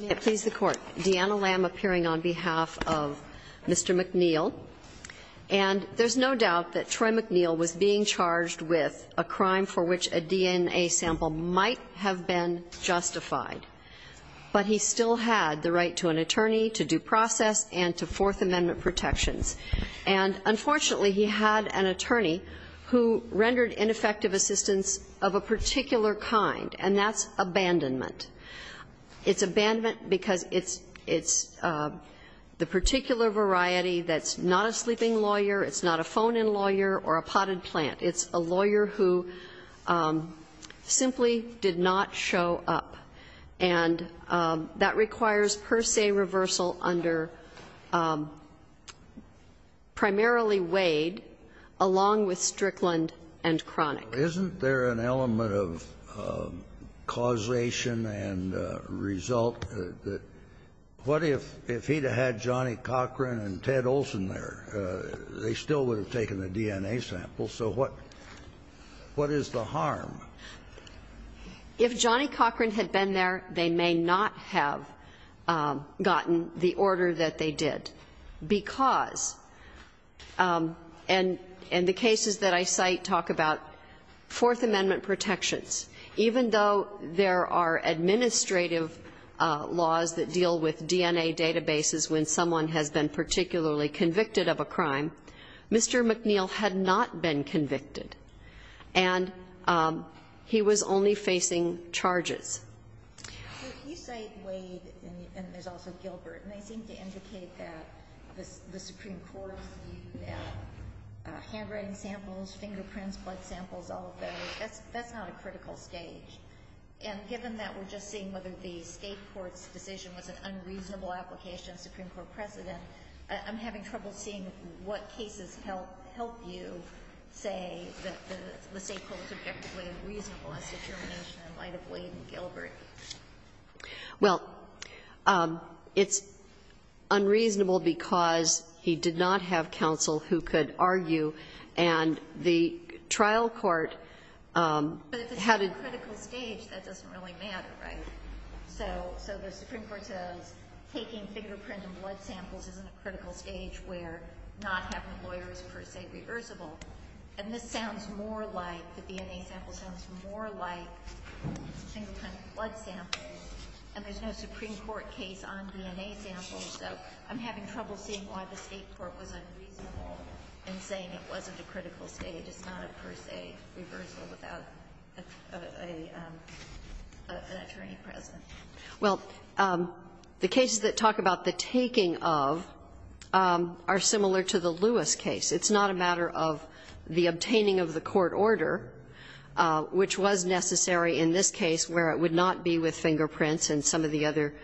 May it please the Court. Deanna Lamb appearing on behalf of Mr. McNeal. And there's no doubt that Troy McNeal was being charged with a crime for which a DNA sample might have been justified. But he still had the right to an attorney, to due process, and to Fourth Amendment protections. And unfortunately, he had an attorney who rendered ineffective assistance of a particular kind, and that's abandonment. It's abandonment because it's the particular variety that's not a sleeping lawyer, it's not a phone-in lawyer, or a potted plant. It's a lawyer who simply did not show up. And that requires per se reversal under primarily Wade, along with Strickland and Cronic. Isn't there an element of causation and result that what if he had had Johnny Cochran and Ted Olson there? They still would have taken the DNA sample. So what is the harm? If Johnny Cochran had been there, they may not have gotten the order that they did. And the cases that I cite talk about Fourth Amendment protections. Even though there are administrative laws that deal with DNA databases when someone has been particularly convicted of a crime, Mr. McNeal had not been convicted. And he was only facing charges. So if you cite Wade, and there's also Gilbert, and they seem to indicate that the Supreme Court's view that handwriting samples, fingerprints, blood samples, all of those, that's not a critical stage. And given that we're just seeing whether the State court's decision was an unreasonable application of Supreme Court precedent, I'm having trouble seeing what cases help you say that the State court is objectively unreasonable as to termination in light of Wade and Gilbert. Well, it's unreasonable because he did not have counsel who could argue, and the trial court had a But if it's not a critical stage, that doesn't really matter, right? So the Supreme Court says taking fingerprint and blood samples isn't a critical stage where not having a lawyer is per se reversible. And this sounds more like, the DNA sample sounds more like fingerprint and blood samples, and there's no Supreme Court case on DNA samples. So I'm having trouble seeing why the State court was unreasonable in saying it wasn't a critical stage. It's not a per se reversal without an attorney present. Well, the cases that talk about the taking of are similar to the Lewis case. It's not a matter of the obtaining of the court order, which was necessary in this case where it would not be with fingerprints and some of the other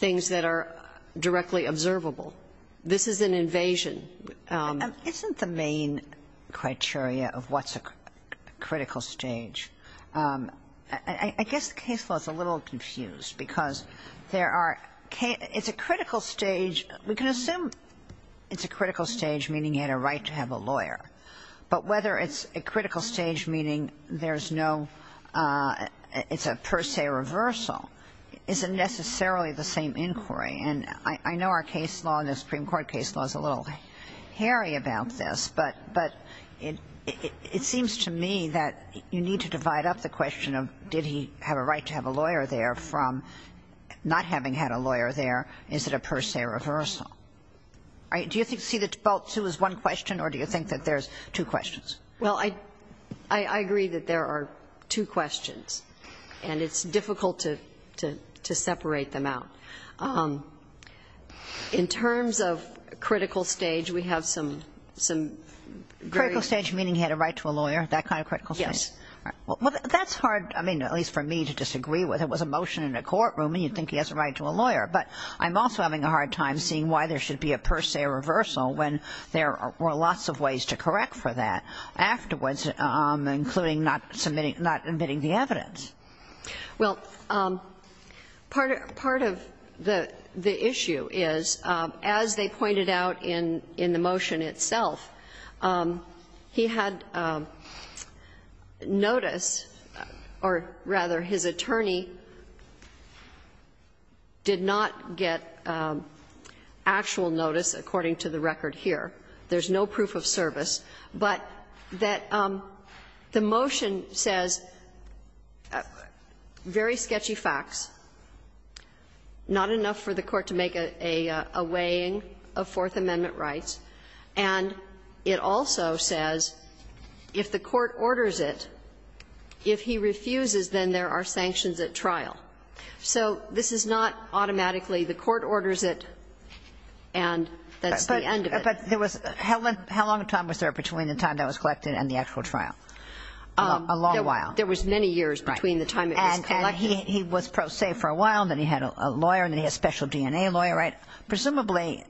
things that are directly observable. This is an invasion. Isn't the main criteria of what's a critical stage? I guess the case law is a little confused because there are It's a critical stage. We can assume it's a critical stage, meaning you had a right to have a lawyer. But whether it's a critical stage, meaning there's no It's a per se reversal isn't necessarily the same inquiry. And I know our case law and the Supreme Court case law is a little hairy about this, but it seems to me that you need to divide up the question of did he have a right to have a lawyer there from not having had a lawyer there. Is it a per se reversal? All right. Do you see that both two is one question, or do you think that there's two questions? Well, I agree that there are two questions, and it's difficult to separate them out. In terms of critical stage, we have some critical stage, meaning he had a right to a lawyer, that kind of critical stage. Yes. Well, that's hard, I mean, at least for me to disagree with. It was a motion in a courtroom, and you'd think he has a right to a lawyer. But I'm also having a hard time seeing why there should be a per se reversal when there were lots of ways to correct for that afterwards, including not submitting, not admitting the evidence. Well, part of the issue is, as they pointed out in the motion itself, he had notice or, rather, his attorney did not get actual notice, according to the record here. There's no proof of service, but that the motion says very sketchy facts, not enough for the court to make a weighing of Fourth Amendment rights, and it also says if the court orders it, if he refuses, then there are sanctions at trial. So this is not automatically the court orders it and that's the end of it. But how long a time was there between the time that was collected and the actual trial? A long while. There was many years between the time it was collected. And he was pro se for a while, then he had a lawyer, then he had a special DNA lawyer. Presumably,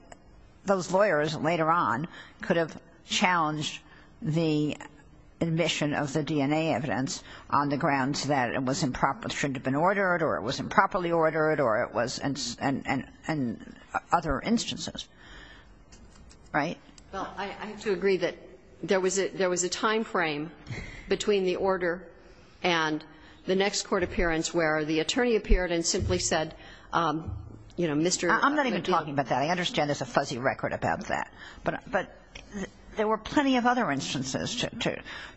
those lawyers later on could have challenged the admission of the DNA evidence on the grounds that it shouldn't have been ordered or it was improperly Right? Well, I have to agree that there was a time frame between the order and the next court appearance where the attorney appeared and simply said, you know, Mr. McGill. I'm not even talking about that. I understand there's a fuzzy record about that. But there were plenty of other instances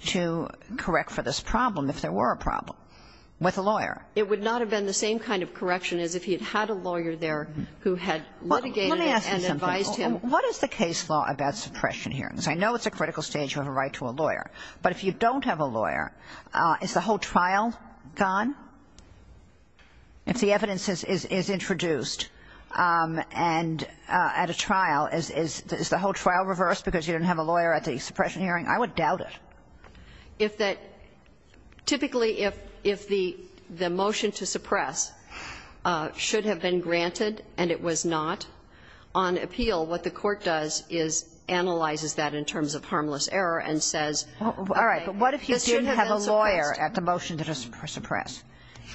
to correct for this problem, if there were a problem, with a lawyer. It would not have been the same kind of correction as if he had had a lawyer there who had litigated and advised him. Well, let me ask you something. What is the case law about suppression hearings? I know it's a critical stage. You have a right to a lawyer. But if you don't have a lawyer, is the whole trial gone? If the evidence is introduced and at a trial, is the whole trial reversed because you don't have a lawyer at the suppression hearing? I would doubt it. Well, typically if the motion to suppress should have been granted and it was not, on appeal what the court does is analyzes that in terms of harmless error and says this should have been suppressed. All right. But what if you didn't have a lawyer at the motion to suppress?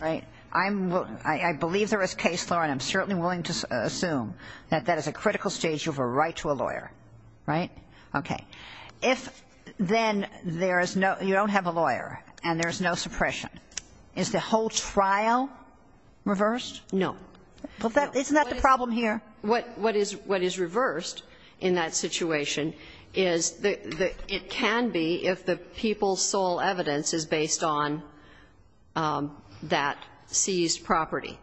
Right? I believe there is case law, and I'm certainly willing to assume that that is a critical stage. You have a right to a lawyer. Right? Okay. If then there is no you don't have a lawyer and there is no suppression, is the whole trial reversed? No. Isn't that the problem here? What is reversed in that situation is it can be if the people's sole evidence is based on that seized property.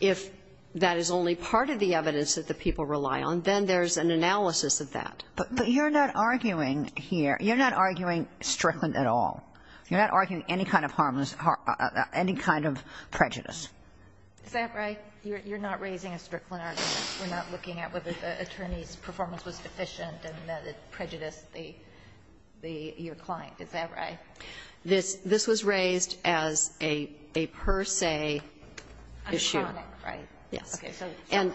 If that is only part of the evidence that the people rely on, then there is an analysis of that. But you're not arguing here. You're not arguing Strickland at all. You're not arguing any kind of harmless or any kind of prejudice. Is that right? You're not raising a Strickland argument. We're not looking at whether the attorney's performance was sufficient and that it prejudiced the your client. Is that right? This was raised as a per se issue. A chronic, right? Yes. And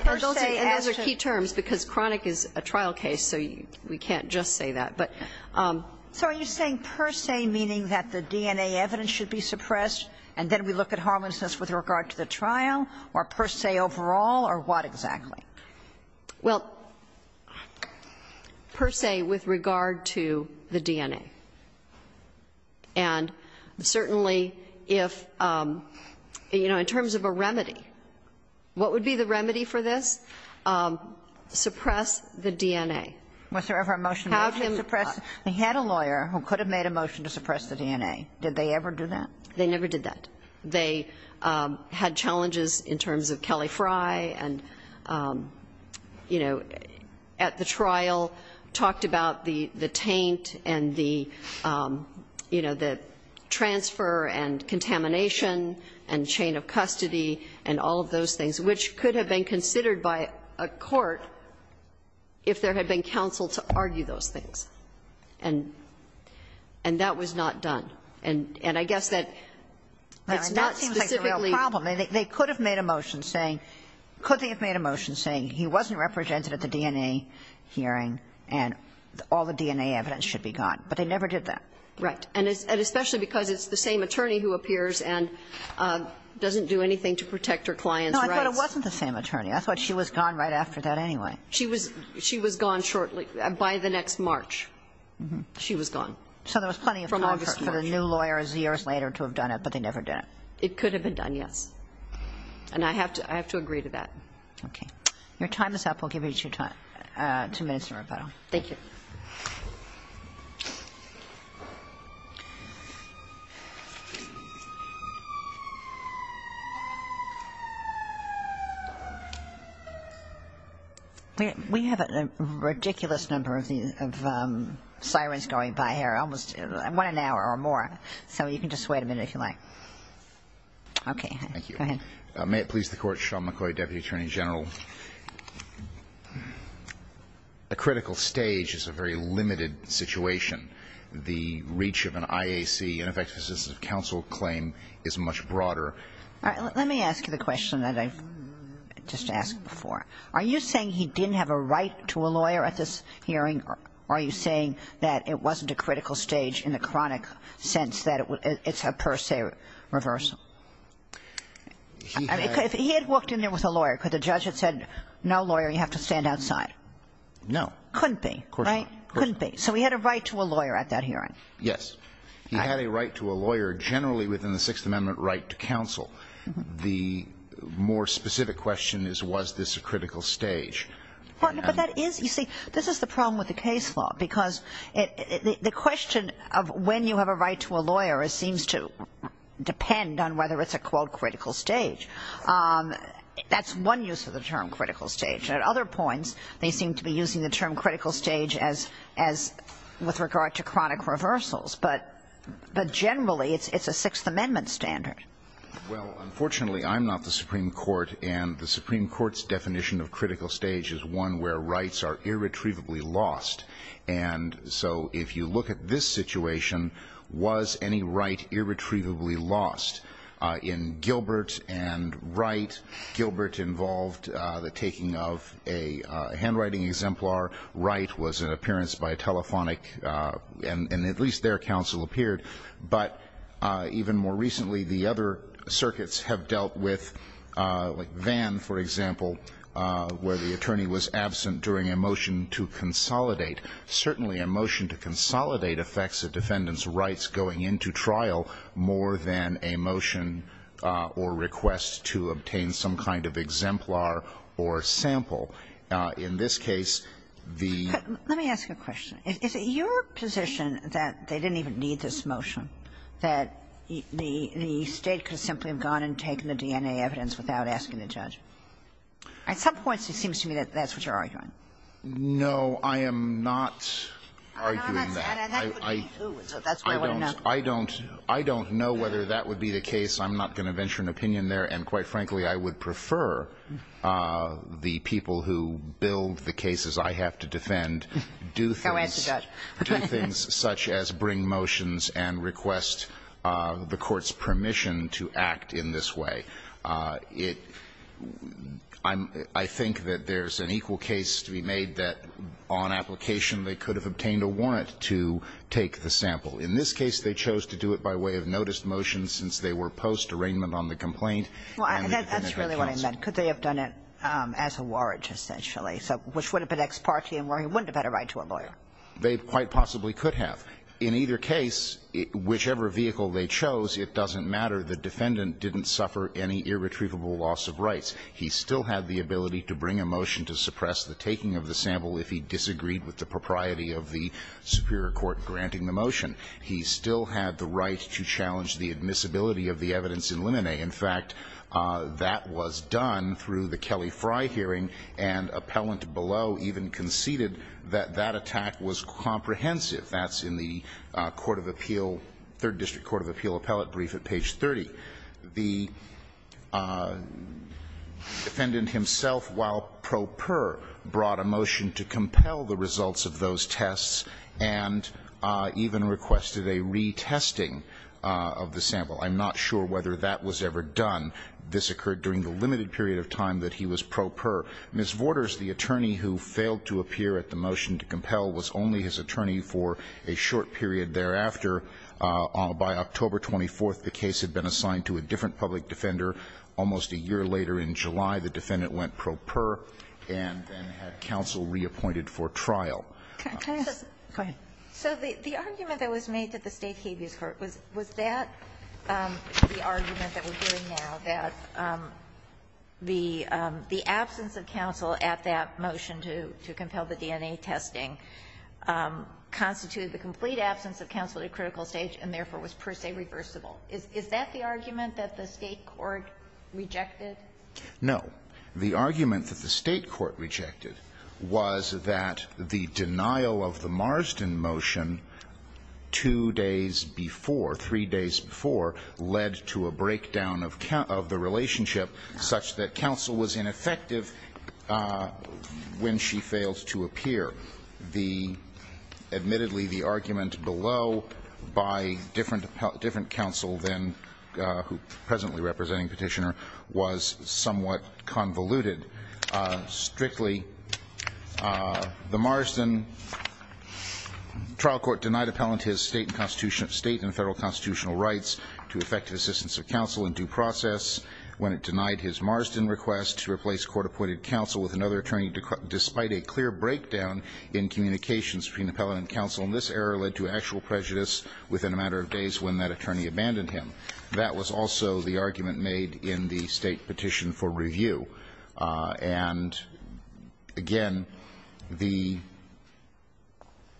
those are key terms, because chronic is a trial case, so we can't just say that. So are you saying per se, meaning that the DNA evidence should be suppressed and then we look at harmlessness with regard to the trial, or per se overall, or what exactly? And certainly if, you know, in terms of a remedy, what would be the remedy for this? Suppress the DNA. Was there ever a motion to suppress? They had a lawyer who could have made a motion to suppress the DNA. Did they ever do that? They never did that. They had challenges in terms of Kelly Fry and, you know, at the trial talked about the taint and the, you know, the transfer and contamination and chain of custody and all of those things, which could have been considered by a court if there had been counsel to argue those things. And that was not done. And I guess that it's not specifically the problem. They could have made a motion saying he wasn't represented at the DNA hearing and all the DNA evidence should be gone. But they never did that. Right. And especially because it's the same attorney who appears and doesn't do anything to protect her client's rights. No, I thought it wasn't the same attorney. I thought she was gone right after that anyway. She was gone shortly, by the next March. She was gone. So there was plenty of time for the new lawyers years later to have done it, but they never did it. It could have been done, yes. And I have to agree to that. Okay. Your time is up. We'll give you two minutes in rebuttal. Thank you. We have a ridiculous number of sirens going by here, almost one an hour or more. So you can just wait a minute if you like. Okay. Thank you. Go ahead. May it please the Court, Sean McCoy, Deputy Attorney General. A critical stage is a very limited situation. The reach of an IAC, ineffective assistive counsel claim, is much broader. All right. Let me ask you the question that I just asked before. Are you saying he didn't have a right to a lawyer at this hearing, or are you saying that it wasn't a critical stage in the chronic sense, that it's a per se reversal? He had walked in there with a lawyer. Could the judge have said, no, lawyer, you have to stand outside? No. Couldn't be, right? Couldn't be. So he had a right to a lawyer at that hearing. Yes. He had a right to a lawyer generally within the Sixth Amendment right to counsel. The more specific question is, was this a critical stage? But that is, you see, this is the problem with the case law, because the question of when you have a right to a lawyer seems to depend on whether it's a, quote, critical stage. That's one use of the term critical stage. At other points, they seem to be using the term critical stage as with regard to chronic reversals. But generally, it's a Sixth Amendment standard. Well, unfortunately, I'm not the Supreme Court, and the Supreme Court's definition of critical stage is one where rights are irretrievably lost, and so if you look at this situation, was any right irretrievably lost? In Gilbert and Wright, Gilbert involved the taking of a handwriting exemplar. Wright was an appearance by a telephonic, and at least their counsel appeared. But even more recently, the other circuits have dealt with, like Vann, for example, where the attorney was absent during a motion to consolidate. Certainly, a motion to consolidate affects a defendant's rights going into trial more than a motion or request to obtain some kind of exemplar or sample. In this case, the ---- But let me ask you a question. Is it your position that they didn't even need this motion, that the State could simply have gone and taken the DNA evidence without asking the judge? At some point, it seems to me that that's what you're arguing. No, I am not arguing that. I don't know whether that would be the case. I'm not going to venture an opinion there. And quite frankly, I would prefer the people who build the cases I have to defend do things ---- Go ask the judge. Do things such as bring motions and request the court's permission to act in this way. It ---- I'm ---- I think that there's an equal case to be made that on application they could have obtained a warrant to take the sample. In this case, they chose to do it by way of noticed motion since they were post-arraignment on the complaint. Well, that's really what I meant. Could they have done it as a warrant, essentially? So which would have been ex parte and where he wouldn't have had a right to a lawyer? They quite possibly could have. In either case, whichever vehicle they chose, it doesn't matter. The defendant didn't suffer any irretrievable loss of rights. He still had the ability to bring a motion to suppress the taking of the sample if he disagreed with the propriety of the superior court granting the motion. He still had the right to challenge the admissibility of the evidence in limine. In fact, that was done through the Kelly Fry hearing, and appellant below even conceded that that attack was comprehensive. That's in the court of appeal, third district court of appeal appellate brief at page 30. The defendant himself, while pro per, brought a motion to compel the results of those tests and even requested a retesting of the sample. I'm not sure whether that was ever done. This occurred during the limited period of time that he was pro per. Ms. Vorders, the attorney who failed to appear at the motion to compel, was only his attorney for a short period thereafter. By October 24th, the case had been assigned to a different public defender. Almost a year later in July, the defendant went pro per and then had counsel reappointed for trial. Go ahead. So the argument that was made to the State habeas court, was that the argument that we're doing now, that the absence of counsel at that motion to compel the DNA testing, constituted the complete absence of counsel at a critical stage and therefore was per se reversible. Is that the argument that the State court rejected? No. The argument that the State court rejected was that the denial of the Marsden motion two days before, three days before, led to a breakdown of the relationship such that counsel was ineffective when she failed to appear. Admittedly, the argument below by different counsel then, who presently representing Petitioner, was somewhat convoluted. Strictly, the Marsden trial court denied appellant his State and federal constitutional rights to effective assistance of counsel in due process when it denied his Marsden request to replace court-appointed counsel with another attorney despite a clear breakdown in communications between appellant and counsel. And this error led to actual prejudice within a matter of days when that attorney abandoned him. That was also the argument made in the State petition for review. And, again, the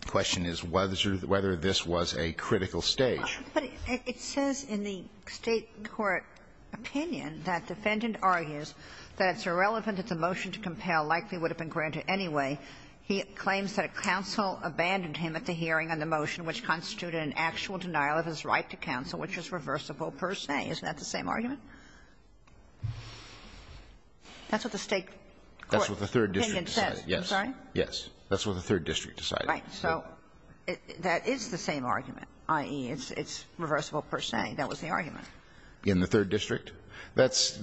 question is whether this was a critical stage. But it says in the State court opinion that defendant argues that it's irrelevant that the motion to compel likely would have been granted anyway. He claims that counsel abandoned him at the hearing on the motion which constituted an actual denial of his right to counsel, which is reversible per se. Isn't that the same argument? That's what the State court opinion says. I'm sorry? Yes. That's what the third district decided. Right. So that is the same argument, i.e., it's reversible per se. That was the argument. In the third district? That's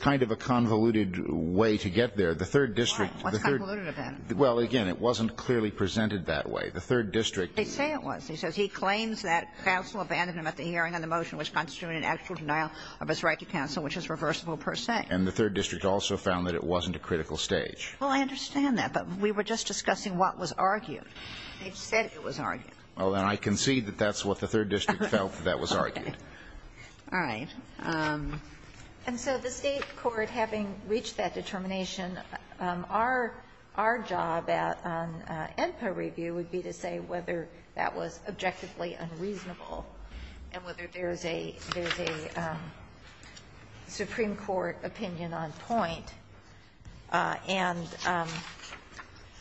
kind of a convoluted way to get there. The third district. Right. What's convoluted about it? Well, again, it wasn't clearly presented that way. The third district. They say it was. He says he claims that counsel abandoned him at the hearing on the motion which constituted an actual denial of his right to counsel, which is reversible per se. And the third district also found that it wasn't a critical stage. Well, I understand that. But we were just discussing what was argued. They said it was argued. Well, then I concede that that's what the third district felt that was argued. All right. And so the State court, having reached that determination, our job at ENPA review would be to say whether that was objectively unreasonable and whether there is a Supreme Court opinion on point, and I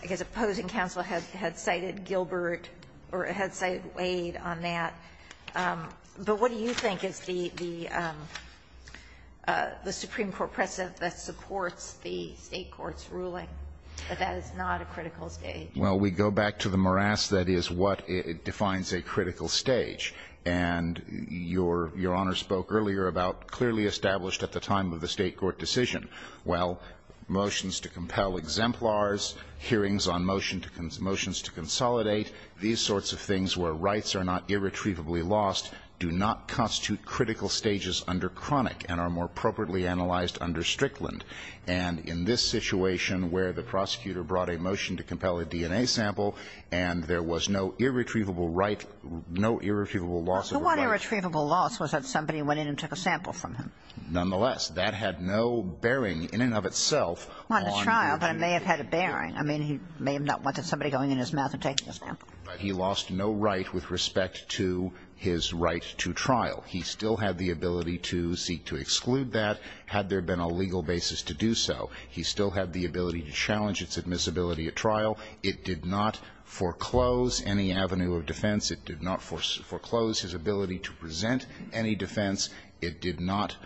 guess opposing counsel had cited Gilbert or had cited Wade on that. But what do you think is the Supreme Court precedent that supports the State court's ruling that that is not a critical stage? Well, we go back to the morass that is what defines a critical stage. And your Honor spoke earlier about clearly established at the time of the State court decision. Well, motions to compel exemplars, hearings on motions to consolidate, these sorts of things where rights are not irretrievably lost do not constitute critical stages under chronic and are more appropriately analyzed under Strickland. And in this situation where the prosecutor brought a motion to compel a DNA sample and there was no irretrievable right, no irretrievable loss of the body. Well, the one irretrievable loss was that somebody went in and took a sample from him. Nonetheless, that had no bearing in and of itself on the DNA. On the trial, but it may have had a bearing. I mean, he may have not wanted somebody going in his mouth and taking a sample. But he lost no right with respect to his right to trial. He still had the ability to seek to exclude that. Had there been a legal basis to do so, he still had the ability to challenge its admissibility at trial. It did not foreclose any avenue of defense. It did not foreclose his ability to present any defense. It did not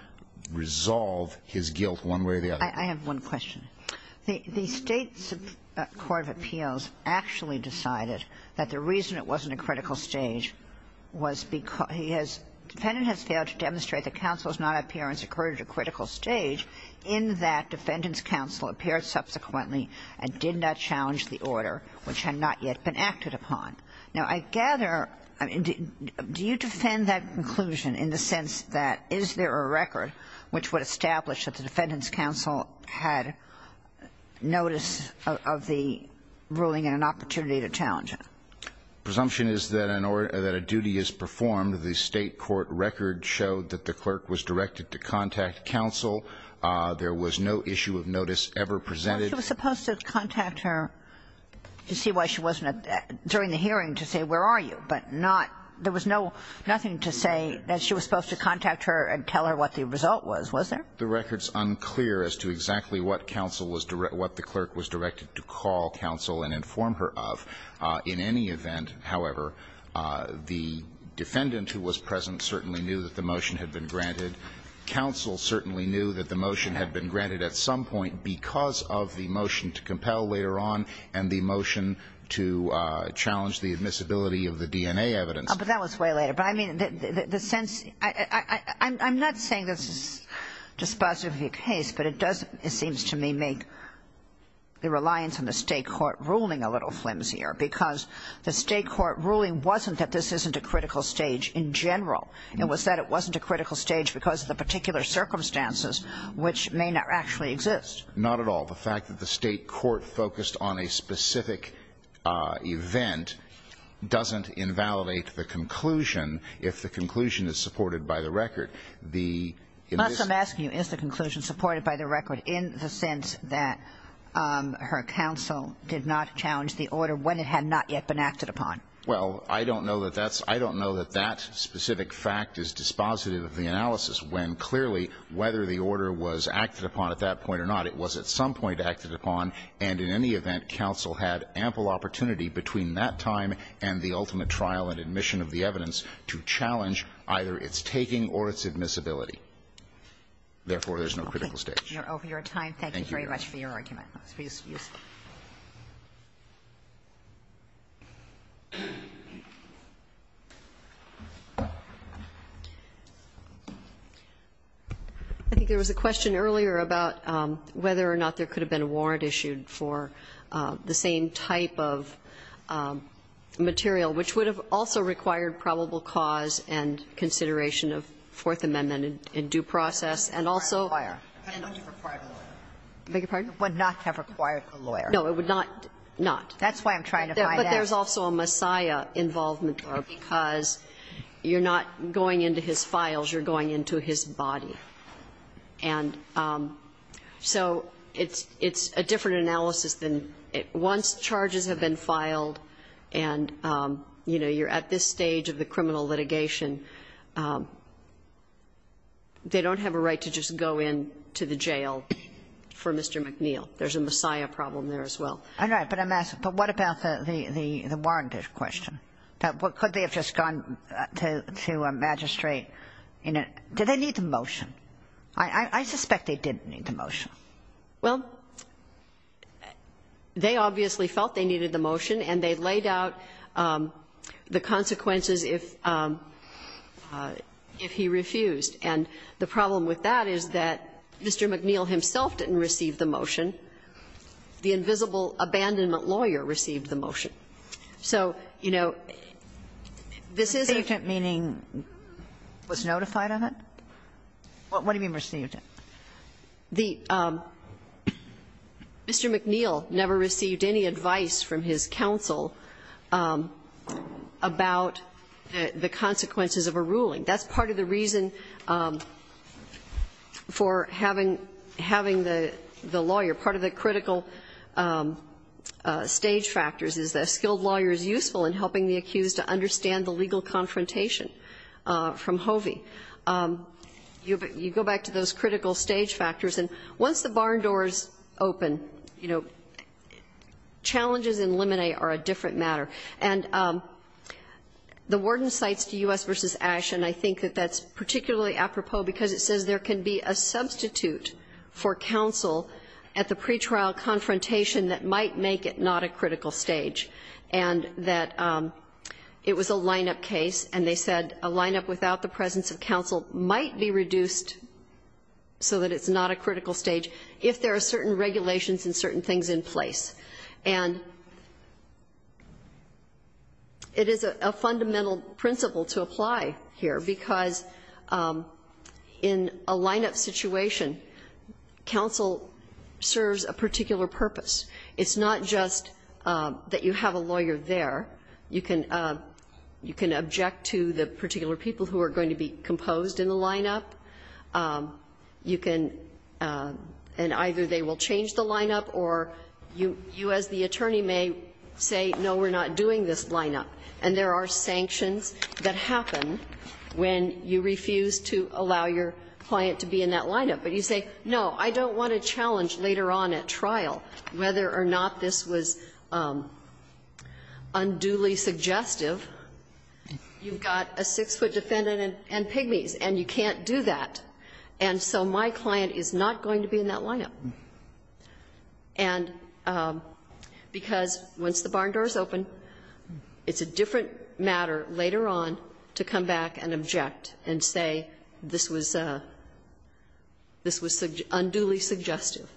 resolve his guilt one way or the other. I have one question. The State's Court of Appeals actually decided that the reason it wasn't a critical stage was because he has, defendant has failed to demonstrate that counsel's non-appearance occurred at a critical stage in that defendant's counsel appeared subsequently and did not challenge the order, which had not yet been acted upon. Now, I gather do you defend that conclusion in the sense that is there a record which would establish that the defendant's counsel had notice of the ruling and an opportunity to challenge it? The presumption is that a duty is performed. The State Court record showed that the clerk was directed to contact counsel. There was no issue of notice ever presented. She was supposed to contact her to see why she wasn't at that, during the hearing to say where are you, but not, there was no, nothing to say that she was supposed to contact her and tell her what the result was, was there? The record's unclear as to exactly what counsel was, what the clerk was directed to call counsel and inform her of. In any event, however, the defendant who was present certainly knew that the motion had been granted. Counsel certainly knew that the motion had been granted at some point because of the motion to compel later on and the motion to challenge the admissibility of the DNA evidence. But that was way later. But I mean, the sense, I'm not saying this is dispositive of your case, but it doesn't, it seems to me, make the reliance on the State Court ruling a little flimsier because the State Court ruling wasn't that this isn't a critical stage in general. It was that it wasn't a critical stage because of the particular circumstances which may not actually exist. Not at all. The fact that the State Court focused on a specific event doesn't invalidate the conclusion if the conclusion is supported by the record. But I'm asking you, is the conclusion supported by the record in the sense that her counsel did not challenge the order when it had not yet been acted upon? Well, I don't know that that specific fact is dispositive of the analysis when clearly whether the order was acted upon at that point or not, it was at some point acted upon, and in any event, counsel had ample opportunity between that time and the admissibility. Therefore, there's no critical stage. Over your time, thank you very much for your argument. Excuse me. I think there was a question earlier about whether or not there could have been a warrant issued for the same type of material, which would have also required probable cause and consideration of Fourth Amendment in due process. And also you're not going into his files, you're going into his body. And so it's a different analysis than once charges have been filed and, you know, you're at this stage of the criminal litigation, they don't have a right to just go into the jail for Mr. McNeil. There's a Messiah problem there as well. All right. But I'm asking, but what about the warranted question? Could they have just gone to a magistrate? Did they need the motion? I suspect they didn't need the motion. Well, they obviously felt they needed the motion and they laid out the consequences if he refused. And the problem with that is that Mr. McNeil himself didn't receive the motion. The invisible abandonment lawyer received the motion. So, you know, this is a ---- Received it meaning was notified of it? What do you mean received it? The ---- Mr. McNeil never received any advice from his counsel about the consequences of a ruling. That's part of the reason for having the lawyer. Part of the critical stage factors is that a skilled lawyer is useful in helping the accused to understand the legal confrontation from Hovey. You go back to those critical stage factors. And once the barn doors open, you know, challenges in limine are a different matter. And the warden cites to U.S. v. Asch. And I think that that's particularly apropos because it says there can be a substitute for counsel at the pretrial confrontation that might make it not a critical stage and that it was a lineup case. And they said a lineup without the presence of counsel might be reduced so that it's not a critical stage if there are certain regulations and certain things in place. And it is a fundamental principle to apply here because in a lineup situation, counsel serves a particular purpose. It's not just that you have a lawyer there. You can object to the particular people who are going to be composed in the lineup. You can, and either they will change the lineup or you as the attorney may say, no, we're not doing this lineup. And there are sanctions that happen when you refuse to allow your client to be in that lineup. But you say, no, I don't want to challenge later on at trial whether or not this was unduly suggestive. You've got a six-foot defendant and pygmies and you can't do that. And so my client is not going to be in that lineup. And because once the barn door is open, it's a different matter later on to come back and object and say this was unduly suggestive.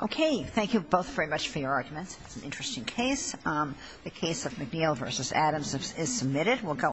Okay. Thank you both very much for your arguments. It's an interesting case. The case of McNeil v. Adams is submitted. We'll go on.